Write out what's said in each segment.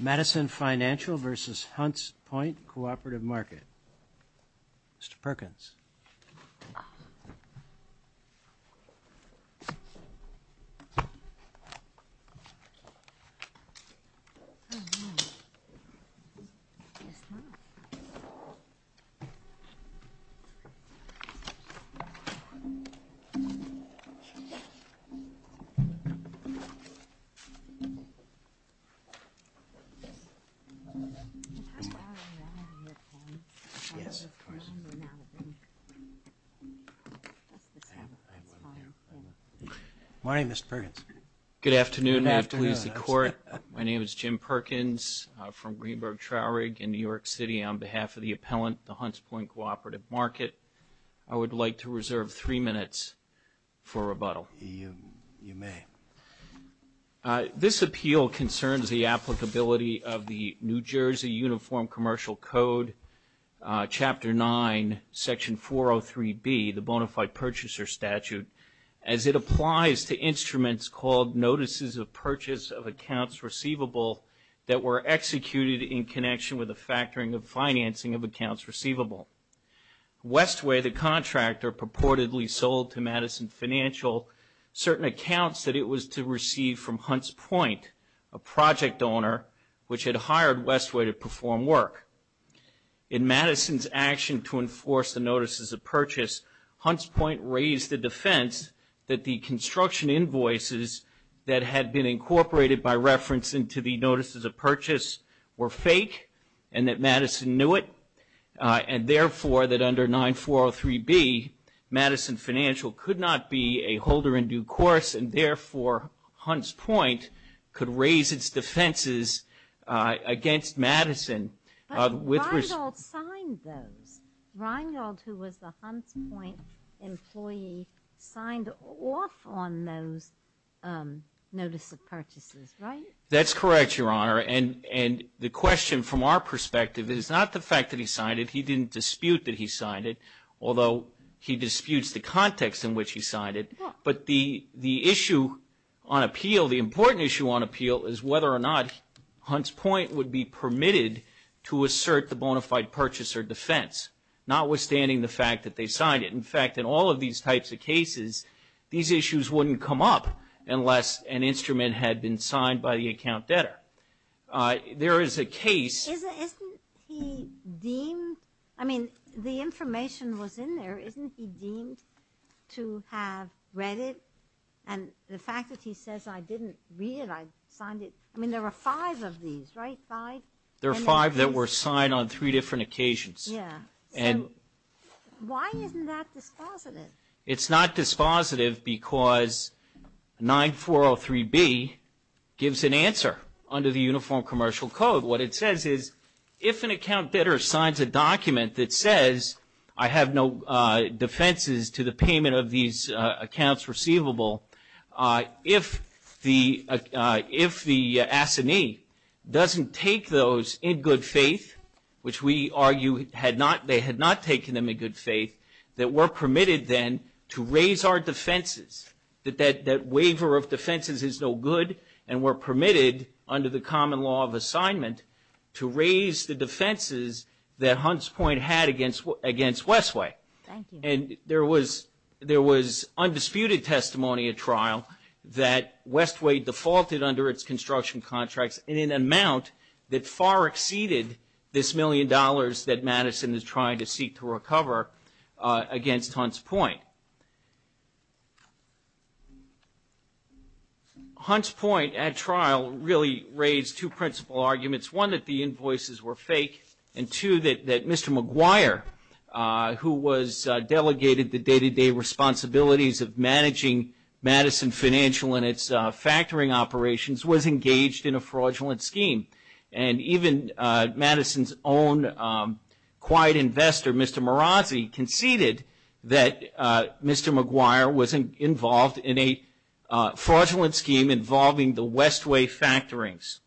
Madison Financial v. Hunts Point Cooperative Market Jim Perkins from Greenberg Trowrig in New York City on behalf of the appellant to the Hunts Point Cooperative Market. I would like to reserve three minutes for rebuttal. You may. This appeal concerns the applicability of the New Jersey Uniform Commercial Code, Chapter 9, Section 403B, the Bonafide Purchaser Statute, as it applies to instruments called Notices of Purchase of Accounts Receivable that were executed in connection with the factoring of financing of accounts receivable. Westway, the contractor, purportedly sold to Madison Financial certain accounts that it was to receive from Hunts Point, a project owner, which had hired Westway to perform work. In Madison's action to enforce the Notices of Purchase, Hunts Point raised the defense that the construction invoices that had been incorporated by reference into the Notices of Purchase were fake and that Madison knew it and, therefore, that under 9403B, Madison Financial could not be a holder in due course and, therefore, Hunts Point could raise its defenses against Madison. But Reingold signed those. Reingold, who was the Hunts Point employee, signed off on those Notice of Purchases, right? That's correct, Your Honor, and the question from our perspective is not the fact that he signed it. He didn't dispute that he signed it, although he disputes the context in which he signed it. But the issue on appeal, the important issue on appeal, is whether or not Hunts Point would be permitted to assert the Bonafide Purchaser defense, notwithstanding the fact that they signed it. In fact, in all of these types of cases, these issues wouldn't come up unless an instrument had been signed by the account debtor. There is a case... Isn't he deemed... I mean, the information was in there. Isn't he deemed to have read it? And the fact that he says, I didn't read it, I signed it... I mean, there were five of these, right? Five? There were five that were signed on three different occasions. Yeah, so why isn't that dispositive? It's not dispositive because 9403B gives an answer under the Uniform Commercial Code. What it says is, if an account debtor signs a document that says, I have no defenses to the payment of these accounts receivable, if the assignee doesn't take those in good faith, which we argue they had not taken them in good faith, that we're permitted then to raise our defenses, that that waiver of defenses is no good, and we're permitted, under the common law of assignment, to raise the defenses that Hunts Point had against Westway. Thank you. And there was undisputed testimony at trial that Westway defaulted under its construction contracts in an amount that far exceeded this million dollars that Madison is trying to seek to recover against Hunts Point. Hunts Point at trial really raised two principal arguments. One, that the invoices were fake, and two, that Mr. McGuire, who was delegated the day-to-day responsibilities of managing Madison Financial and its factoring operations, was engaged in a fraudulent scheme. And even Madison's own quiet investor, Mr. Marazzi, conceded that Mr. McGuire was involved in a fraudulent scheme involving the Westway factorings.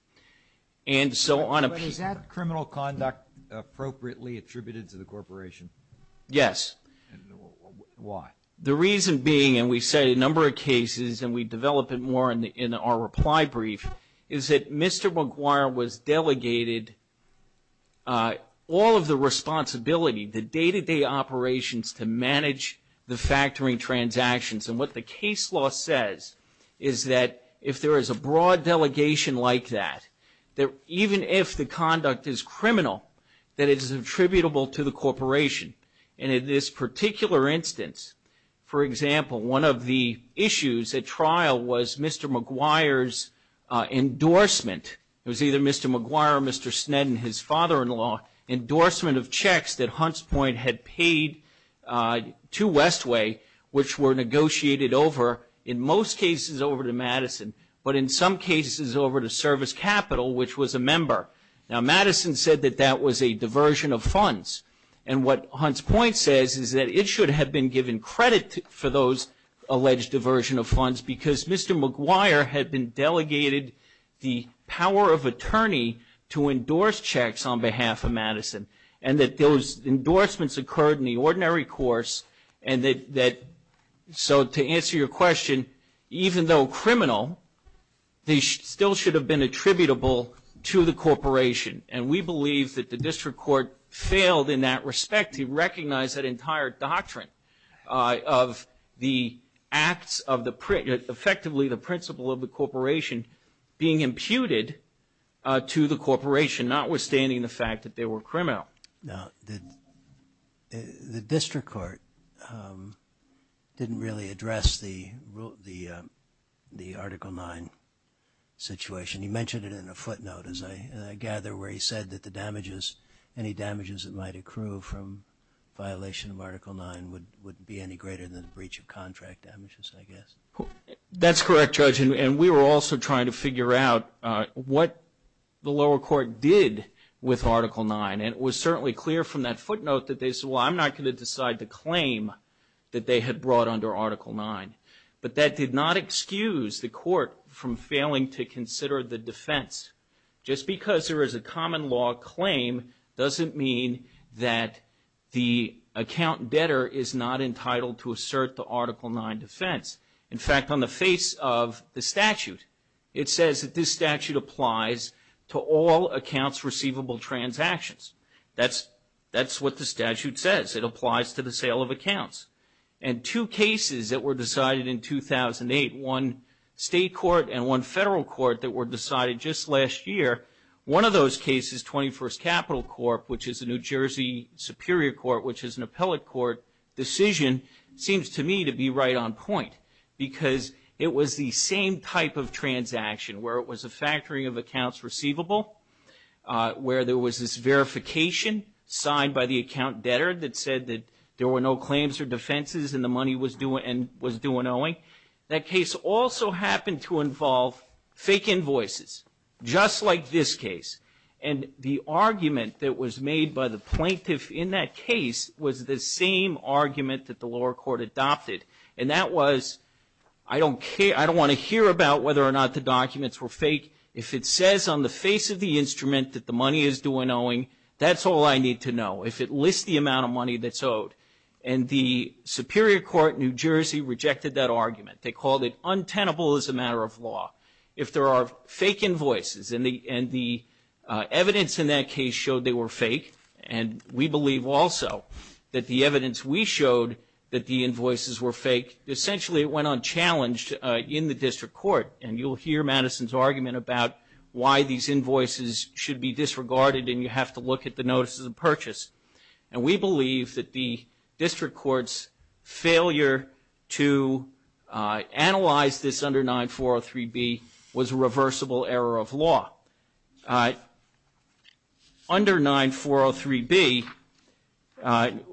But is that criminal conduct appropriately attributed to the corporation? Yes. Why? The reason being, and we cite a number of cases and we develop it more in our reply brief, is that Mr. McGuire was delegated all of the responsibility, the day-to-day operations to manage the factoring transactions. And what the case law says is that if there is a broad delegation like that, that even if the conduct is criminal, that it is attributable to the corporation. And in this particular instance, for example, one of the issues at trial was Mr. McGuire's endorsement. It was either Mr. McGuire or Mr. Sneddon, his father-in-law, endorsement of checks that Hunts Point had paid to Westway, which were negotiated over, in most cases over to Madison, but in some cases over to Service Capital, which was a member. Now Madison said that that was a diversion of funds. And what Hunts Point says is that it should have been given credit for those alleged diversion of funds because Mr. McGuire had been delegated the power of attorney to endorse checks on behalf of Madison. And that those endorsements occurred in the ordinary course and that, so to answer your question, even though criminal, they still should have been attributable to the corporation. And we believe that the district court failed in that respect to recognize that entire doctrine of the acts of the, effectively the principle of the corporation being imputed to the corporation, notwithstanding the fact that they were criminal. Now the district court didn't really address the Article 9 situation. You mentioned it in a footnote, as I gather, where he said that the damages, any damages that might accrue from violation of Article 9 would be any greater than a breach of contract damages, I guess. That's correct, Judge. And we were also trying to figure out what the lower court did with Article 9. And it was certainly clear from that footnote that they said, well, I'm not going to decide to claim that they had brought under Article 9. But that did not excuse the court from failing to consider the defense. Just because there is a common law claim doesn't mean that the account debtor is not entitled to assert the Article 9 defense. In fact, on the face of the statute, it says that this statute applies to all accounts receivable transactions. That's what the statute says. It applies to the sale of accounts. And two cases that were decided in 2008, one state court and one federal court that were decided just last year, one of those cases, 21st Capital Corp., which is a New Jersey superior court, which is an appellate court decision, seems to me to be right on point because it was the same type of transaction, where it was a factoring of accounts receivable, where there was this verification signed by the account debtor that said that there were no claims or defenses and the money was due an owing. That case also happened to involve fake invoices, just like this case. And the argument that was made by the plaintiff in that case was the same argument that the lower court adopted. And that was, I don't want to hear about whether or not the documents were fake. If it says on the face of the instrument that the money is due an owing, that's all I need to know. If it lists the amount of money that's owed, and the superior court in New Jersey rejected that argument. They called it untenable as a matter of law. If there are fake invoices, and the evidence in that case showed they were fake, and we believe also that the evidence we showed that the invoices were fake, essentially it went unchallenged in the district court. And you'll hear Madison's argument about why these invoices should be disregarded and you have to look at the notices of purchase. And we believe that the district court's failure to analyze this under 9403B was a reversible error of law. Under 9403B,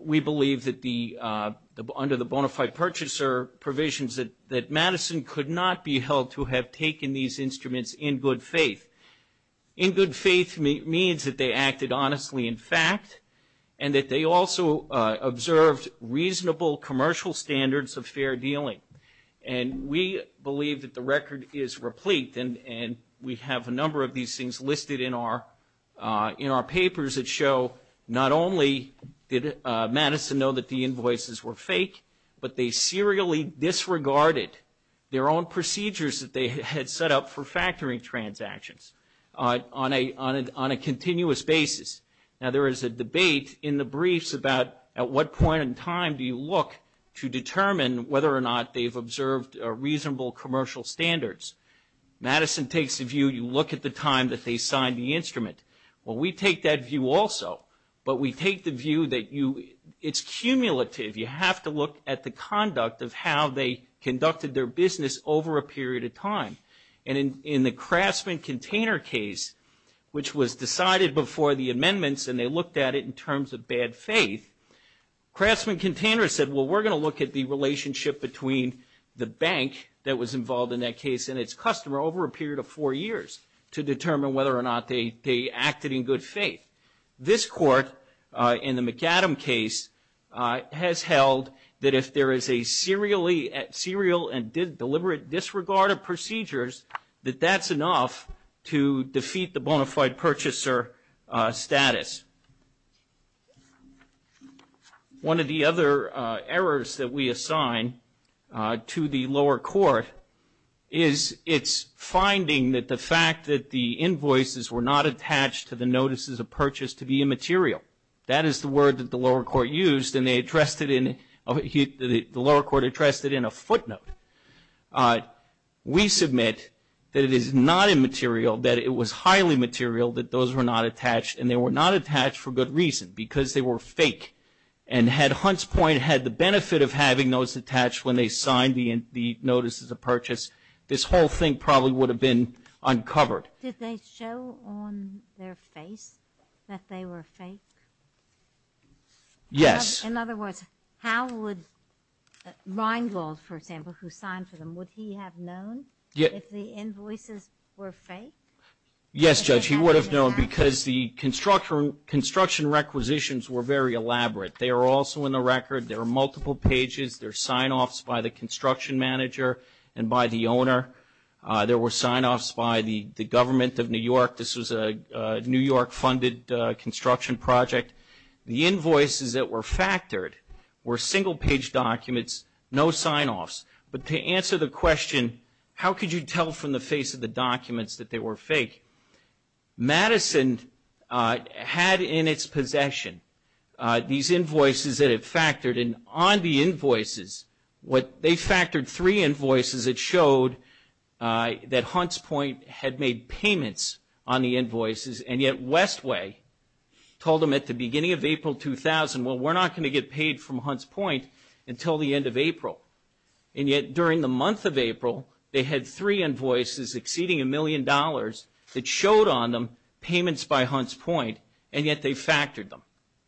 we believe that under the bona fide purchaser provisions, that Madison could not be held to have taken these instruments in good faith. In good faith means that they acted honestly in fact, and that they also observed reasonable commercial standards of fair dealing. And we believe that the record is replete, and we have a number of these things listed in our papers that show not only did Madison know that the invoices were fake, but they serially disregarded their own procedures that they had set up for factoring transactions on a continuous basis. Now, there is a debate in the briefs about at what point in time do you look to determine whether or not they've observed reasonable commercial standards. Madison takes the view you look at the time that they signed the instrument. Well, we take that view also, but we take the view that it's cumulative. You have to look at the conduct of how they conducted their business over a period of time. And in the Craftsman-Container case, which was decided before the amendments, and they looked at it in terms of bad faith, Craftsman-Container said, well, we're going to look at the relationship between the bank that was involved in that case and its customer over a period of four years to determine whether or not they acted in good faith. This court in the McAdam case has held that if there is a serial and deliberate disregard of procedures, that that's enough to defeat the bona fide purchaser status. One of the other errors that we assign to the lower court is its finding that the fact that the invoices were not attached to the notices of purchase to be immaterial. That is the word that the lower court used, and they addressed it in a footnote. We submit that it is not immaterial, that it was highly material, that those were not attached, and they were not attached for good reason, because they were fake. And had Hunt's point had the benefit of having those attached when they signed the notices of purchase, this whole thing probably would have been uncovered. Did they show on their face that they were fake? Yes. In other words, how would Reingold, for example, who signed for them, would he have known if the invoices were fake? Yes, Judge, he would have known, because the construction requisitions were very elaborate. They are also in the record. There are multiple pages. There were sign-offs by the government of New York. This was a New York-funded construction project. The invoices that were factored were single-page documents, no sign-offs. But to answer the question, how could you tell from the face of the documents that they were fake, Madison had in its possession these invoices that it factored, and on the invoices, they factored three invoices that showed that Hunt's point had made payments on the invoices, and yet Westway told them at the beginning of April 2000, well, we're not going to get paid from Hunt's point until the end of April. And yet during the month of April, they had three invoices exceeding a million dollars that showed on them payments by Hunt's point, and yet they factored them.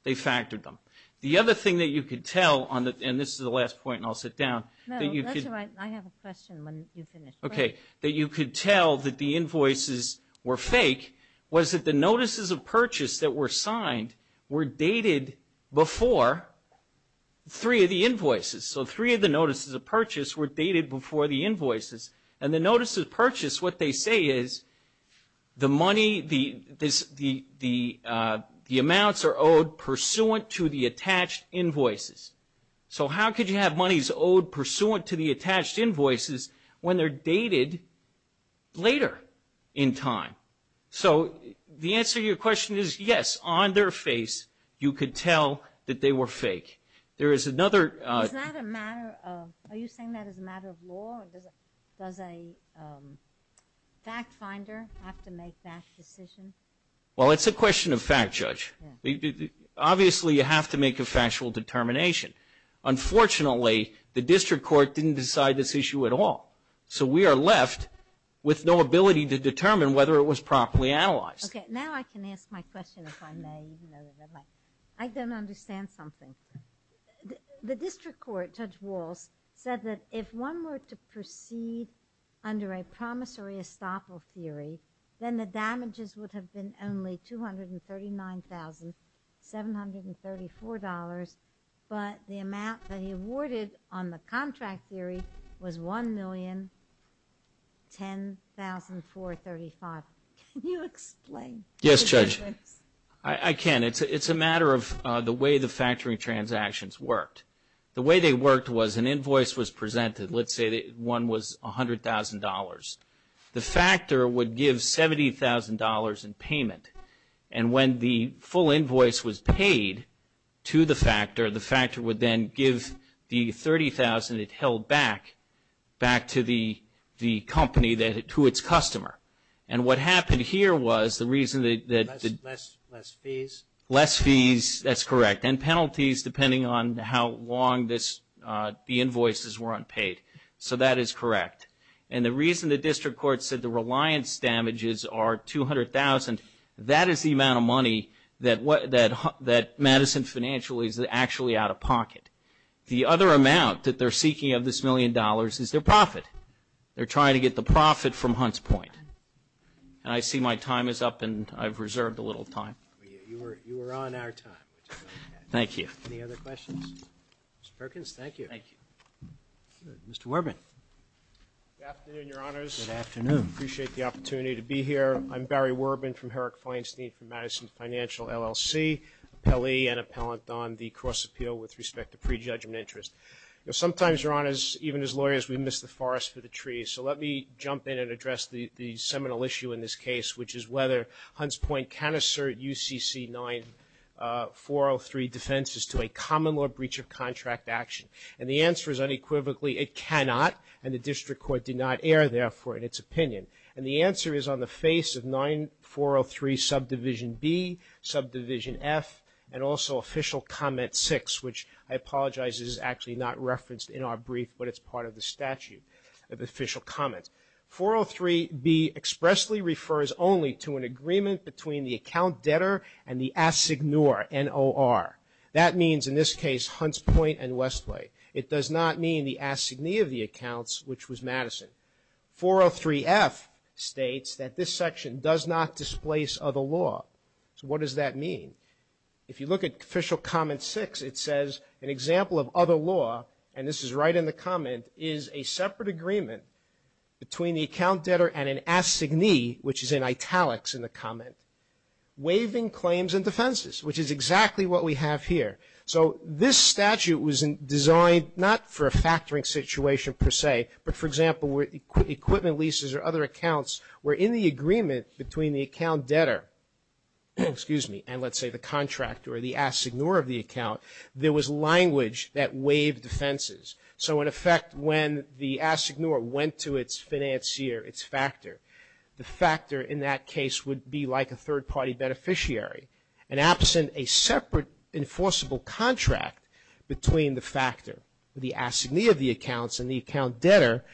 They factored them. The other thing that you could tell, and this is the last point and I'll sit down. No, that's all right. I have a question when you finish. Okay. That you could tell that the invoices were fake was that the notices of purchase that were signed were dated before three of the invoices. So three of the notices of purchase were dated before the invoices, and the notices of purchase, what they say is the money, the amounts are owed pursuant to the attached invoices. So how could you have monies owed pursuant to the attached invoices when they're dated later in time? So the answer to your question is yes, on their face you could tell that they were fake. There is another. Is that a matter of, are you saying that is a matter of law? Does a fact finder have to make that decision? Well, it's a question of fact, Judge. Obviously, you have to make a factual determination. Unfortunately, the district court didn't decide this issue at all. So we are left with no ability to determine whether it was properly analyzed. Okay. Now I can ask my question if I may. I don't understand something. The district court, Judge Walz, said that if one were to proceed under a promissory estoppel theory, then the damages would have been only $239,734, but the amount that he awarded on the contract theory was $1,010,435. Can you explain? Yes, Judge. I can. It's a matter of the way the factoring transactions worked. The way they worked was an invoice was presented. Let's say that one was $100,000. The factor would give $70,000 in payment. And when the full invoice was paid to the factor, the factor would then give the $30,000 it held back, back to the company, to its customer. And what happened here was the reason that the Less fees. Less fees, that's correct, and penalties depending on how long the invoices were unpaid. So that is correct. And the reason the district court said the reliance damages are $200,000, that is the amount of money that Madison Financial is actually out of pocket. The other amount that they're seeking of this million dollars is their profit. They're trying to get the profit from Hunt's Point. And I see my time is up and I've reserved a little time. You were on our time. Thank you. Any other questions? Mr. Perkins, thank you. Thank you. Mr. Werbin. Good afternoon, Your Honors. Good afternoon. I appreciate the opportunity to be here. I'm Barry Werbin from Herrick Feinstein from Madison Financial, LLC, appellee and appellant on the cross appeal with respect to prejudgment interest. Sometimes, Your Honors, even as lawyers, we miss the forest for the trees. So let me jump in and address the seminal issue in this case, which is whether Hunt's Point can assert UCC 9403 defenses to a common law breach of contract action. And the answer is unequivocally it cannot, and the district court did not err, therefore, in its opinion. And the answer is on the face of 9403 Subdivision B, Subdivision F, and also Official Comment 6, which I apologize is actually not referenced in our brief, but it's part of the statute of official comments. 403B expressly refers only to an agreement between the account debtor and the assignor, NOR. That means, in this case, Hunt's Point and Westlake. It does not mean the assignee of the accounts, which was Madison. 403F states that this section does not displace other law. So what does that mean? If you look at Official Comment 6, it says, an example of other law, and this is right in the comment, is a separate agreement between the account debtor and an assignee, which is in italics in the comment, waiving claims and defenses, which is exactly what we have here. So this statute was designed not for a factoring situation per se, but, for example, where equipment leases or other accounts were in the agreement between the account debtor, excuse me, and let's say the contractor or the assignor of the account, there was language that waived defenses. So, in effect, when the assignor went to its financier, its factor, the factor in that case would be like a third-party beneficiary, and absent a separate enforceable contract between the factor, the assignee of the accounts and the account debtor,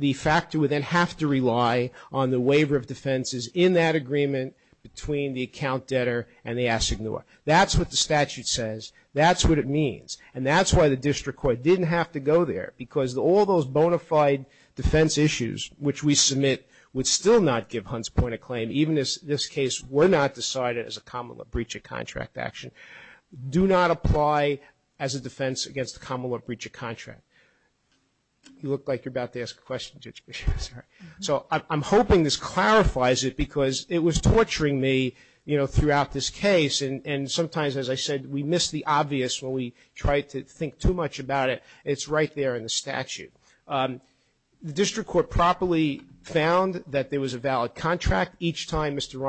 the factor would then have to rely on the waiver of defenses in that agreement between the account debtor and the assignor. That's what the statute says. That's what it means. And that's why the district court didn't have to go there, because all those bona fide defense issues, which we submit would still not give Hunt's point of claim, even as this case were not decided as a breach of contract action, do not apply as a defense against a common law breach of contract. You look like you're about to ask a question, Judge Bishop. Sorry. So I'm hoping this clarifies it, because it was torturing me, you know, throughout this case, and sometimes, as I said, we miss the obvious when we try to think too much about it. It's right there in the statute. The district court properly found that there was a valid contract each time Mr.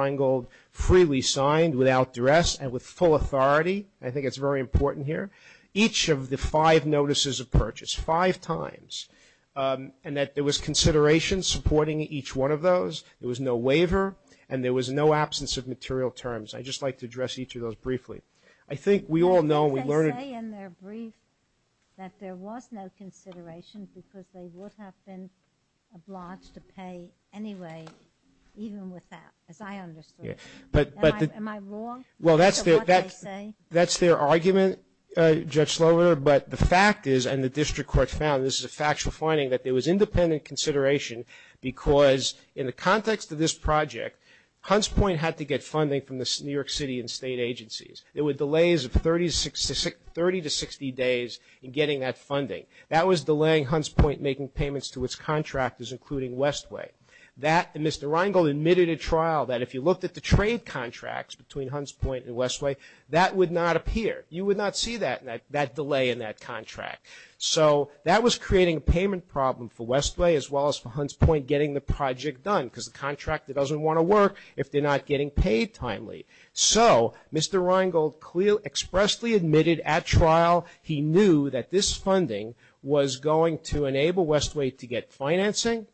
I think it's very important here. Each of the five notices of purchase, five times, and that there was consideration supporting each one of those. There was no waiver, and there was no absence of material terms. I'd just like to address each of those briefly. I think we all know we learned. They say in their brief that there was no consideration, because they would have been obliged to pay anyway, even with that, as I understood. Am I wrong? Well, that's their argument, Judge Slover, but the fact is, and the district court found this is a factual finding, that there was independent consideration, because in the context of this project, Hunts Point had to get funding from the New York City and state agencies. There were delays of 30 to 60 days in getting that funding. That was delaying Hunts Point making payments to its contractors, including Westway. Mr. Rheingold admitted at trial that if you looked at the trade contracts between Hunts Point and Westway, that would not appear. You would not see that delay in that contract. So that was creating a payment problem for Westway, as well as for Hunts Point getting the project done, because the contractor doesn't want to work if they're not getting paid timely. So Mr. Rheingold expressly admitted at trial he knew that this funding was going to enable Westway to get financing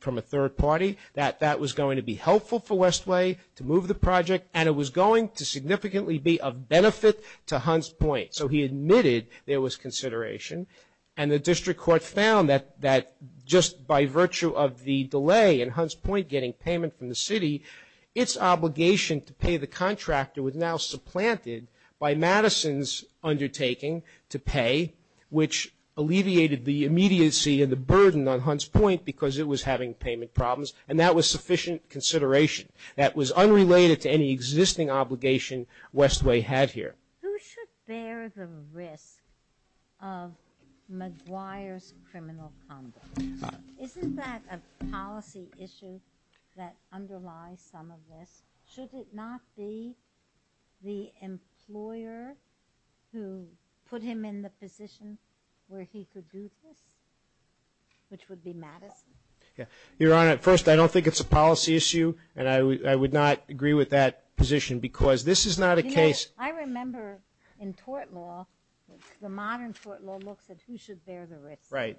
from a third party, that that was going to be helpful for Westway to move the project, and it was going to significantly be of benefit to Hunts Point. So he admitted there was consideration, and the district court found that just by virtue of the delay in Hunts Point getting payment from the city, its obligation to pay the contractor was now supplanted by Madison's undertaking to pay, which alleviated the immediacy and the burden on Hunts Point because it was having payment problems, and that was sufficient consideration. That was unrelated to any existing obligation Westway had here. Who should bear the risk of McGuire's criminal conduct? Isn't that a policy issue that underlies some of this? Should it not be the employer who put him in the position where he could do this, which would be Madison? Your Honor, first, I don't think it's a policy issue, and I would not agree with that position because this is not a case. I remember in tort law, the modern tort law looks at who should bear the risk. Right.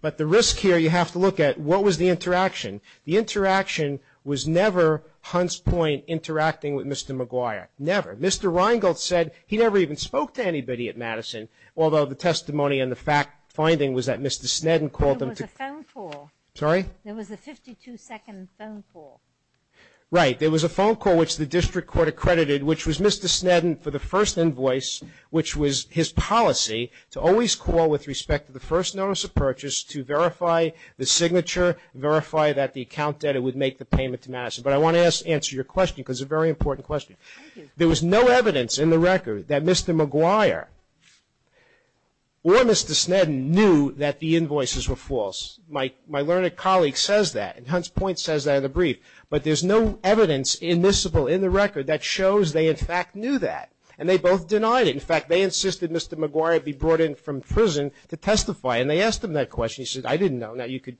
But the risk here you have to look at what was the interaction. The interaction was never Hunts Point interacting with Mr. McGuire. Never. Mr. Reingold said he never even spoke to anybody at Madison, although the testimony and the finding was that Mr. Sneddon called him to ---- There was a phone call. Sorry? There was a 52-second phone call. Right. There was a phone call which the district court accredited, which was Mr. Sneddon for the first invoice, which was his policy to always call with respect to the first notice of purchase to verify the signature, verify that the account debtor would make the payment to Madison. But I want to answer your question because it's a very important question. There was no evidence in the record that Mr. McGuire or Mr. Sneddon knew that the invoices were false. My learned colleague says that, and Hunts Point says that in the brief, but there's no evidence admissible in the record that shows they in fact knew that, and they both denied it. In fact, they insisted Mr. McGuire be brought in from prison to testify, and they asked him that question. He said, I didn't know. Now, you could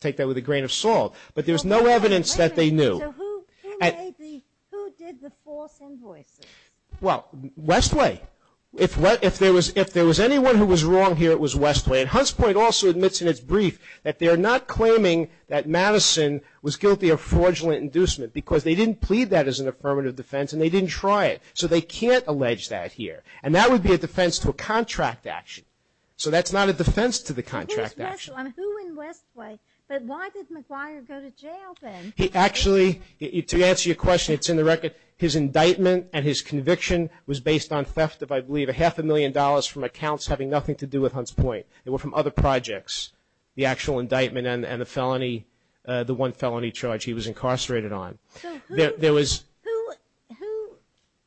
take that with a grain of salt. But there was no evidence that they knew. So who made the ---- who did the false invoices? Well, Westway. If there was anyone who was wrong here, it was Westway. And Hunts Point also admits in its brief that they're not claiming that Madison was guilty of fraudulent inducement because they didn't plead that as an affirmative defense and they didn't try it. So they can't allege that here. And that would be a defense to a contract action. So that's not a defense to the contract action. Who in Westway? But why did McGuire go to jail then? He actually, to answer your question, it's in the record, his indictment and his conviction was based on theft of, I believe, a half a million dollars from accounts having nothing to do with Hunts Point. They were from other projects, the actual indictment and the felony, the one felony charge he was incarcerated on. So who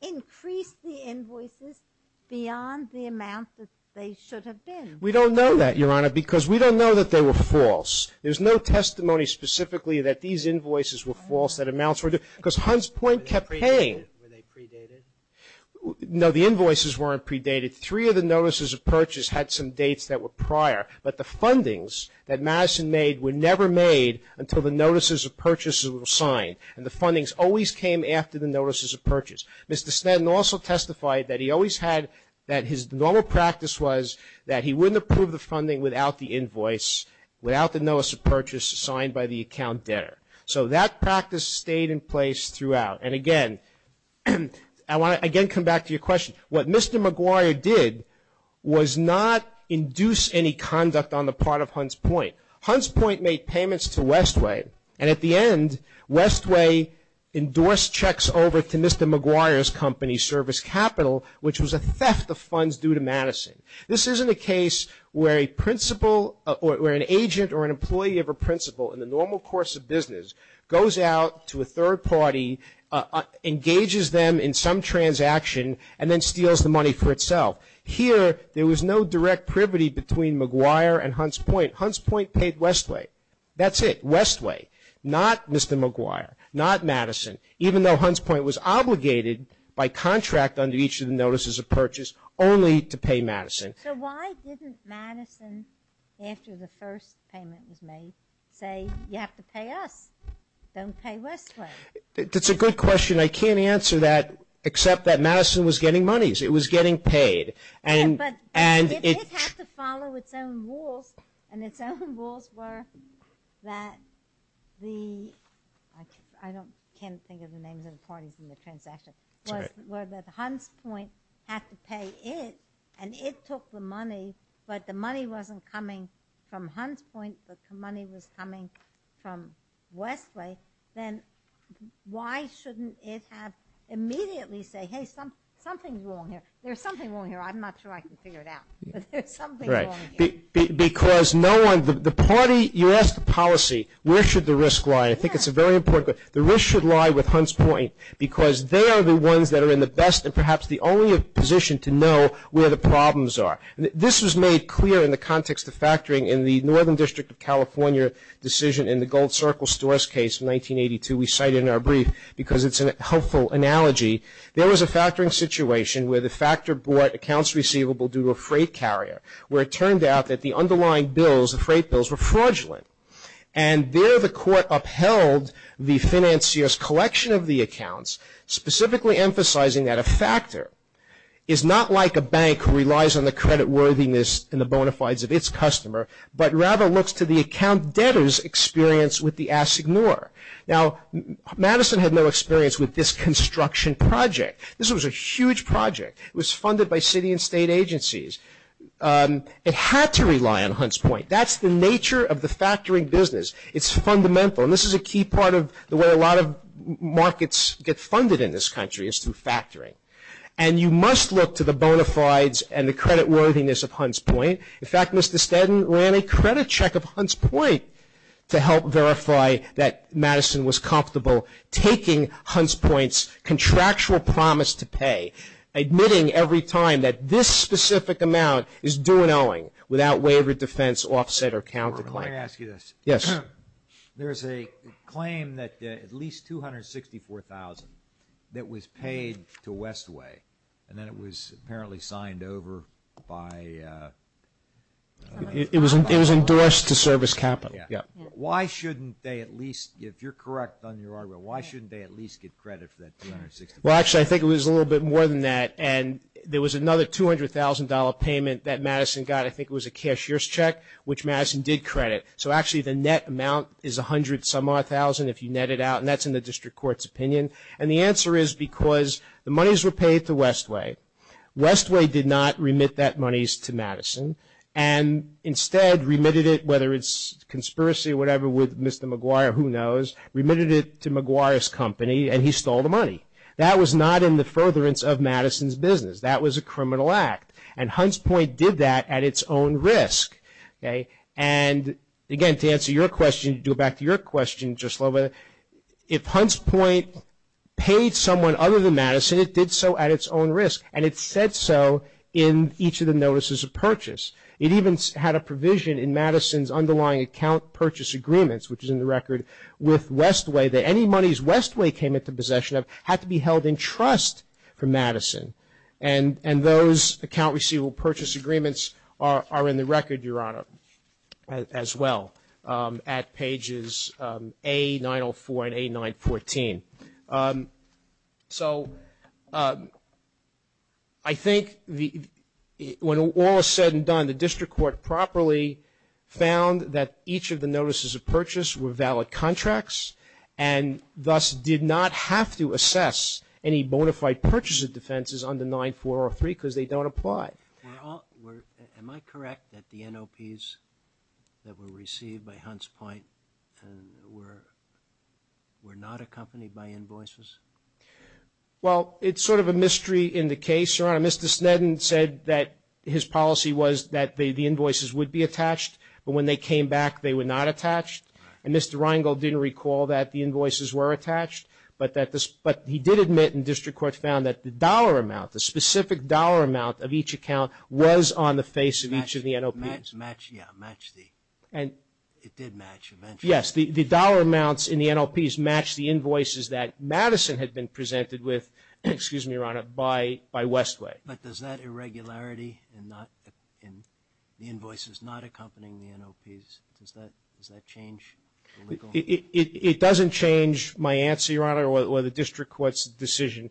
increased the invoices beyond the amount that they should have been? We don't know that, Your Honor, because we don't know that they were false. There's no testimony specifically that these invoices were false, that amounts were ---- because Hunts Point kept paying. Were they predated? No, the invoices weren't predated. Three of the notices of purchase had some dates that were prior, but the fundings that Madison made were never made until the notices of purchase were signed. And the fundings always came after the notices of purchase. Mr. Sneddon also testified that he always had, that his normal practice was that he wouldn't approve the funding without the invoice, without the notices of purchase signed by the account debtor. So that practice stayed in place throughout. And, again, I want to, again, come back to your question. What Mr. McGuire did was not induce any conduct on the part of Hunts Point. Hunts Point made payments to Westway, and at the end, Westway endorsed checks over to Mr. McGuire's company, Service Capital, which was a theft of funds due to Madison. This isn't a case where a principal or an agent or an employee of a principal in the normal course of business goes out to a third party, engages them in some transaction, and then steals the money for itself. Here, there was no direct privity between McGuire and Hunts Point. Hunts Point paid Westway. That's it, Westway, not Mr. McGuire, not Madison, even though Hunts Point was obligated by contract under each of the notices of purchase only to pay Madison. So why didn't Madison, after the first payment was made, say you have to pay us, don't pay Westway? That's a good question. I can't answer that except that Madison was getting monies. It was getting paid. It had to follow its own rules, and its own rules were that the – I can't think of the names of the parties in the transaction – were that Hunts Point had to pay it, and it took the money, but the money wasn't coming from Hunts Point, but the money was coming from Westway. Then why shouldn't it have immediately say, hey, something's wrong here. There's something wrong here. I'm not sure I can figure it out, but there's something wrong here. Right. Because no one – the party – you asked the policy, where should the risk lie, and I think it's a very important – the risk should lie with Hunts Point, because they are the ones that are in the best and perhaps the only position to know where the problems are. This was made clear in the context of factoring in the Northern District of California decision in the Gold Circle stores case in 1982. We cite it in our brief because it's a helpful analogy. There was a factoring situation where the factor brought accounts receivable due to a freight carrier, where it turned out that the underlying bills, the freight bills, were fraudulent, and there the court upheld the financier's collection of the accounts, specifically emphasizing that a factor is not like a bank who relies on the credit worthiness and the bona fides of its customer, but rather looks to the account debtor's experience with the assignor. Now, Madison had no experience with this construction project. This was a huge project. It was funded by city and state agencies. It had to rely on Hunts Point. That's the nature of the factoring business. It's fundamental, and this is a key part of the way a lot of markets get funded in this country is through factoring. And you must look to the bona fides and the credit worthiness of Hunts Point. In fact, Mr. Stedman ran a credit check of Hunts Point to help verify that Madison was comfortable taking Hunts Point's contractual promise to pay, admitting every time that this specific amount is due and owing without waiver, defense, offset, or counterclaim. Let me ask you this. Yes. There is a claim that at least $264,000 that was paid to Westway, and then it was apparently signed over by... It was endorsed to service capital. Yes. Why shouldn't they at least, if you're correct on your argument, why shouldn't they at least get credit for that $264,000? Well, actually, I think it was a little bit more than that, and there was another $200,000 payment that Madison got. I think it was a cashier's check, which Madison did credit. So, actually, the net amount is a hundred-some-odd thousand if you net it out, and that's in the district court's opinion. And the answer is because the monies were paid to Westway. Westway did not remit that monies to Madison, and instead remitted it, whether it's conspiracy or whatever with Mr. McGuire, who knows, remitted it to McGuire's company, and he stole the money. That was not in the furtherance of Madison's business. That was a criminal act, and Hunts Point did that at its own risk. And, again, to answer your question, to go back to your question just a little bit, if Hunts Point paid someone other than Madison, it did so at its own risk, and it said so in each of the notices of purchase. It even had a provision in Madison's underlying account purchase agreements, which is in the record, with Westway, that any monies Westway came into possession of had to be held in trust for Madison. And those account receivable purchase agreements are in the record, Your Honor, as well, at pages A904 and A914. So I think when all is said and done, the district court properly found that each of the notices of purchase were valid contracts, and thus did not have to assess any bona fide purchase of defenses under 9403, because they don't apply. Am I correct that the NOPs that were received by Hunts Point were not accompanied by invoices? Well, it's sort of a mystery in the case, Your Honor. Mr. Sneddon said that his policy was that the invoices would be attached, but when they came back, they were not attached. And Mr. Reingold didn't recall that the invoices were attached, but he did admit, and district court found, that the dollar amount, the specific dollar amount of each account was on the face of each of the NOPs. Yeah, it did match eventually. Yes, the dollar amounts in the NOPs matched the invoices that Madison had been presented with, excuse me, Your Honor, by Westway. But does that irregularity in the invoices not accompanying the NOPs, does that change the legal? It doesn't change my answer, Your Honor, or the district court's decision.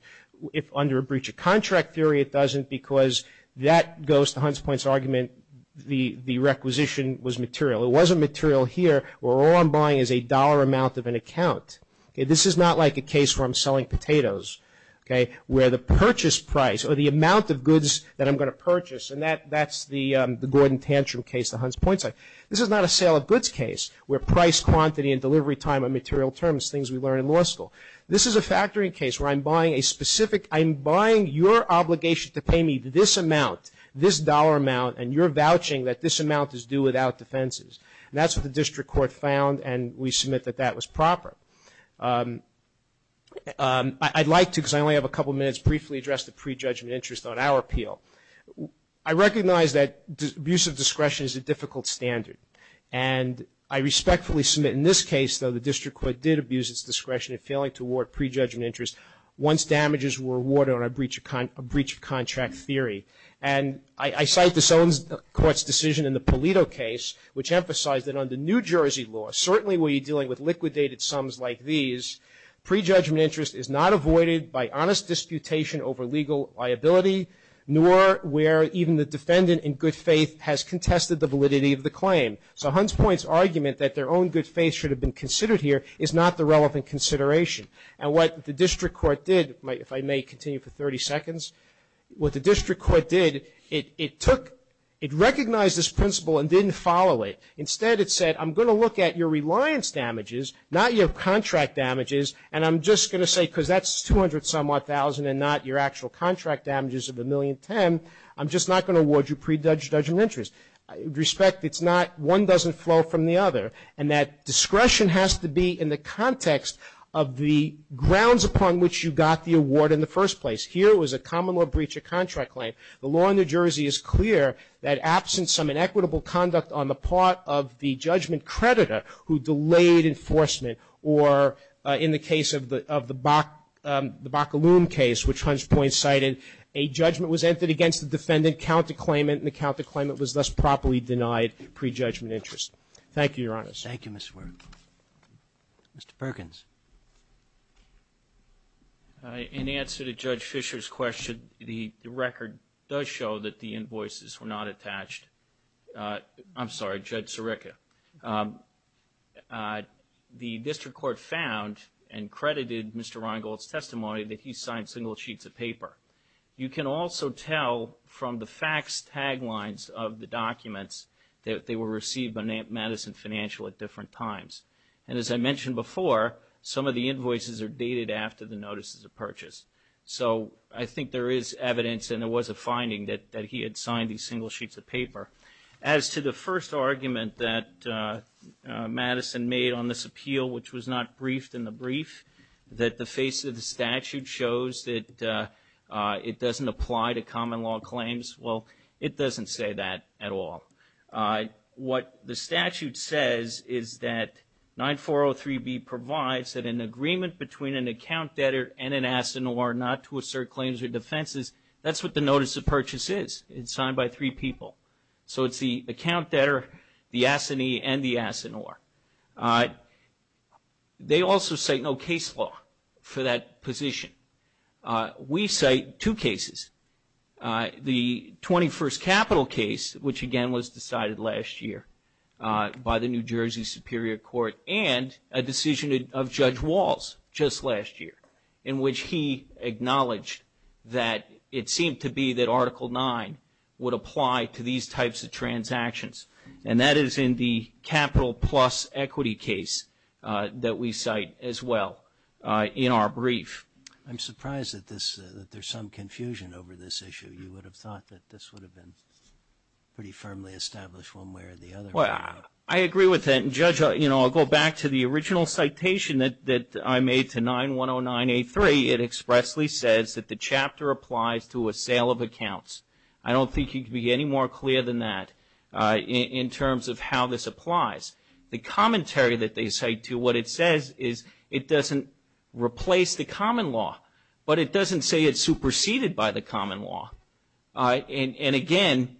If under a breach of contract theory, it doesn't, because that goes to Hunts Point's argument, the requisition was material. It wasn't material here where all I'm buying is a dollar amount of an account. This is not like a case where I'm selling potatoes, okay, where the purchase price or the amount of goods that I'm going to purchase, and that's the Gordon Tantrum case, the Hunts Point case. This is not a sale of goods case where price, quantity, and delivery time are material terms, things we learn in law school. This is a factoring case where I'm buying a specific, I'm buying your obligation to pay me this amount, this dollar amount, and you're vouching that this amount is due without defenses. And that's what the district court found, and we submit that that was proper. I'd like to, because I only have a couple minutes, briefly address the prejudgment interest on our appeal. I recognize that abuse of discretion is a difficult standard, and I respectfully submit in this case, though, that the district court did abuse its discretion in failing to award prejudgment interest once damages were awarded on a breach of contract theory. And I cite the Sones Court's decision in the Pulido case, which emphasized that under New Jersey law, certainly when you're dealing with liquidated sums like these, prejudgment interest is not avoided by honest disputation over legal liability, nor where even the defendant in good faith has contested the validity of the claim. So Hunts Point's argument that their own good faith should have been considered here is not the relevant consideration. And what the district court did, if I may continue for 30 seconds, what the district court did, it took, it recognized this principle and didn't follow it. Instead, it said, I'm going to look at your reliance damages, not your contract damages, and I'm just going to say, because that's 200-some-odd thousand and not your actual contract damages of a million ten, I'm just not going to award you prejudgment interest. With respect, it's not, one doesn't flow from the other. And that discretion has to be in the context of the grounds upon which you got the award in the first place. Here it was a common law breach of contract claim. The law in New Jersey is clear that absent some inequitable conduct on the part of the judgment creditor who delayed enforcement, or in the case of the Bacalume case, which Hunts Point cited, a judgment was entered against the defendant, the count to claim it, and the count to claim it was thus properly denied prejudgment interest. Thank you, Your Honor. Roberts. Thank you, Mr. Wernick. Mr. Perkins. In answer to Judge Fischer's question, the record does show that the invoices were not attached. I'm sorry, Judge Sirica. The district court found and credited Mr. Rheingold's testimony that he signed single sheets of paper. You can also tell from the fax taglines of the documents that they were received by Madison Financial at different times. And as I mentioned before, some of the invoices are dated after the notices of purchase. So I think there is evidence and there was a finding that he had signed these single sheets of paper. As to the first argument that Madison made on this appeal, which was not briefed in the brief, that the face of the statute shows that it doesn't apply to common law claims, well, it doesn't say that at all. What the statute says is that 9403B provides that an agreement between an account debtor and an assineur not to assert claims or defenses, that's what the notice of purchase is. It's signed by three people. So it's the account debtor, the assinee, and the assineur. They also say no case law for that position. We cite two cases, the 21st Capital case, which again was decided last year by the New Jersey Superior Court, and a decision of Judge Walls just last year, in which he acknowledged that it seemed to be that Article 9 would apply to these types of transactions. And that is in the Capital Plus equity case that we cite as well in our brief. I'm surprised that there's some confusion over this issue. You would have thought that this would have been pretty firmly established one way or the other. Well, I agree with that. And, Judge, I'll go back to the original citation that I made to 9109A3. It expressly says that the chapter applies to a sale of accounts. I don't think you can be any more clear than that. In terms of how this applies, the commentary that they cite to, what it says is it doesn't replace the common law, but it doesn't say it's superseded by the common law. And again,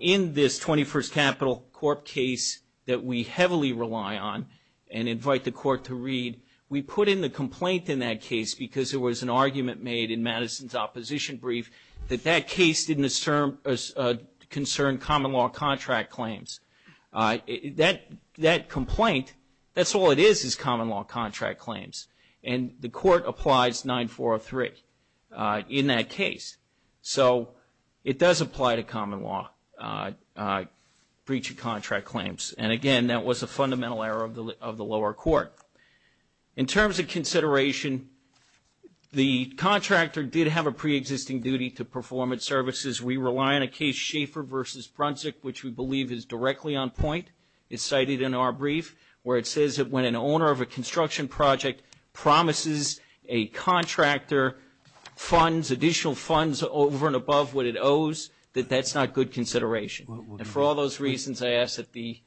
in this 21st Capital Corp case that we heavily rely on and invite the Court to read, we put in the complaint in that case because there was an argument made in Madison's opposition brief that that case didn't concern common law contract claims. That complaint, that's all it is, is common law contract claims. And the Court applies 9403 in that case. So it does apply to common law breach of contract claims. And again, that was a fundamental error of the lower court. In terms of consideration, the contractor did have a preexisting duty to perform its services. We rely on a case Schaeffer v. Brunswick, which we believe is directly on point. It's cited in our brief where it says that when an owner of a construction project promises a contractor funds, additional funds over and above what it owes, that that's not good consideration. And for all those reasons, I ask that the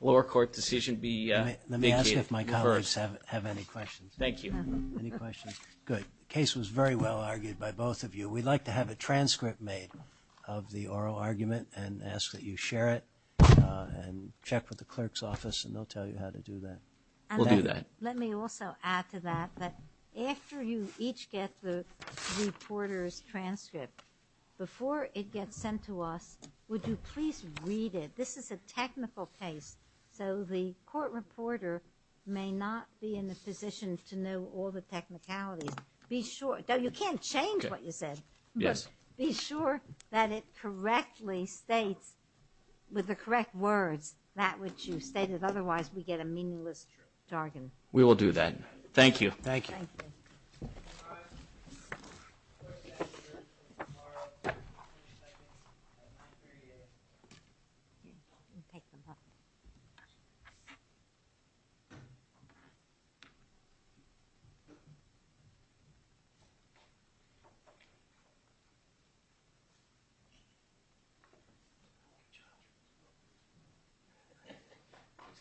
lower court decision be vacated first. Let me ask if my colleagues have any questions. Thank you. Any questions? Good. The case was very well argued by both of you. We'd like to have a transcript made of the oral argument and ask that you share it and check with the clerk's office, and they'll tell you how to do that. We'll do that. Let me also add to that that after you each get the reporter's transcript, before it gets sent to us, would you please read it? This is a technical case, so the court reporter may not be in a position to know all the technicalities. You can't change what you said, but be sure that it correctly states with the correct words that which you stated, otherwise we get a meaningless jargon. We will do that. Thank you. Thank you. Thank you. Thank you. Thank you.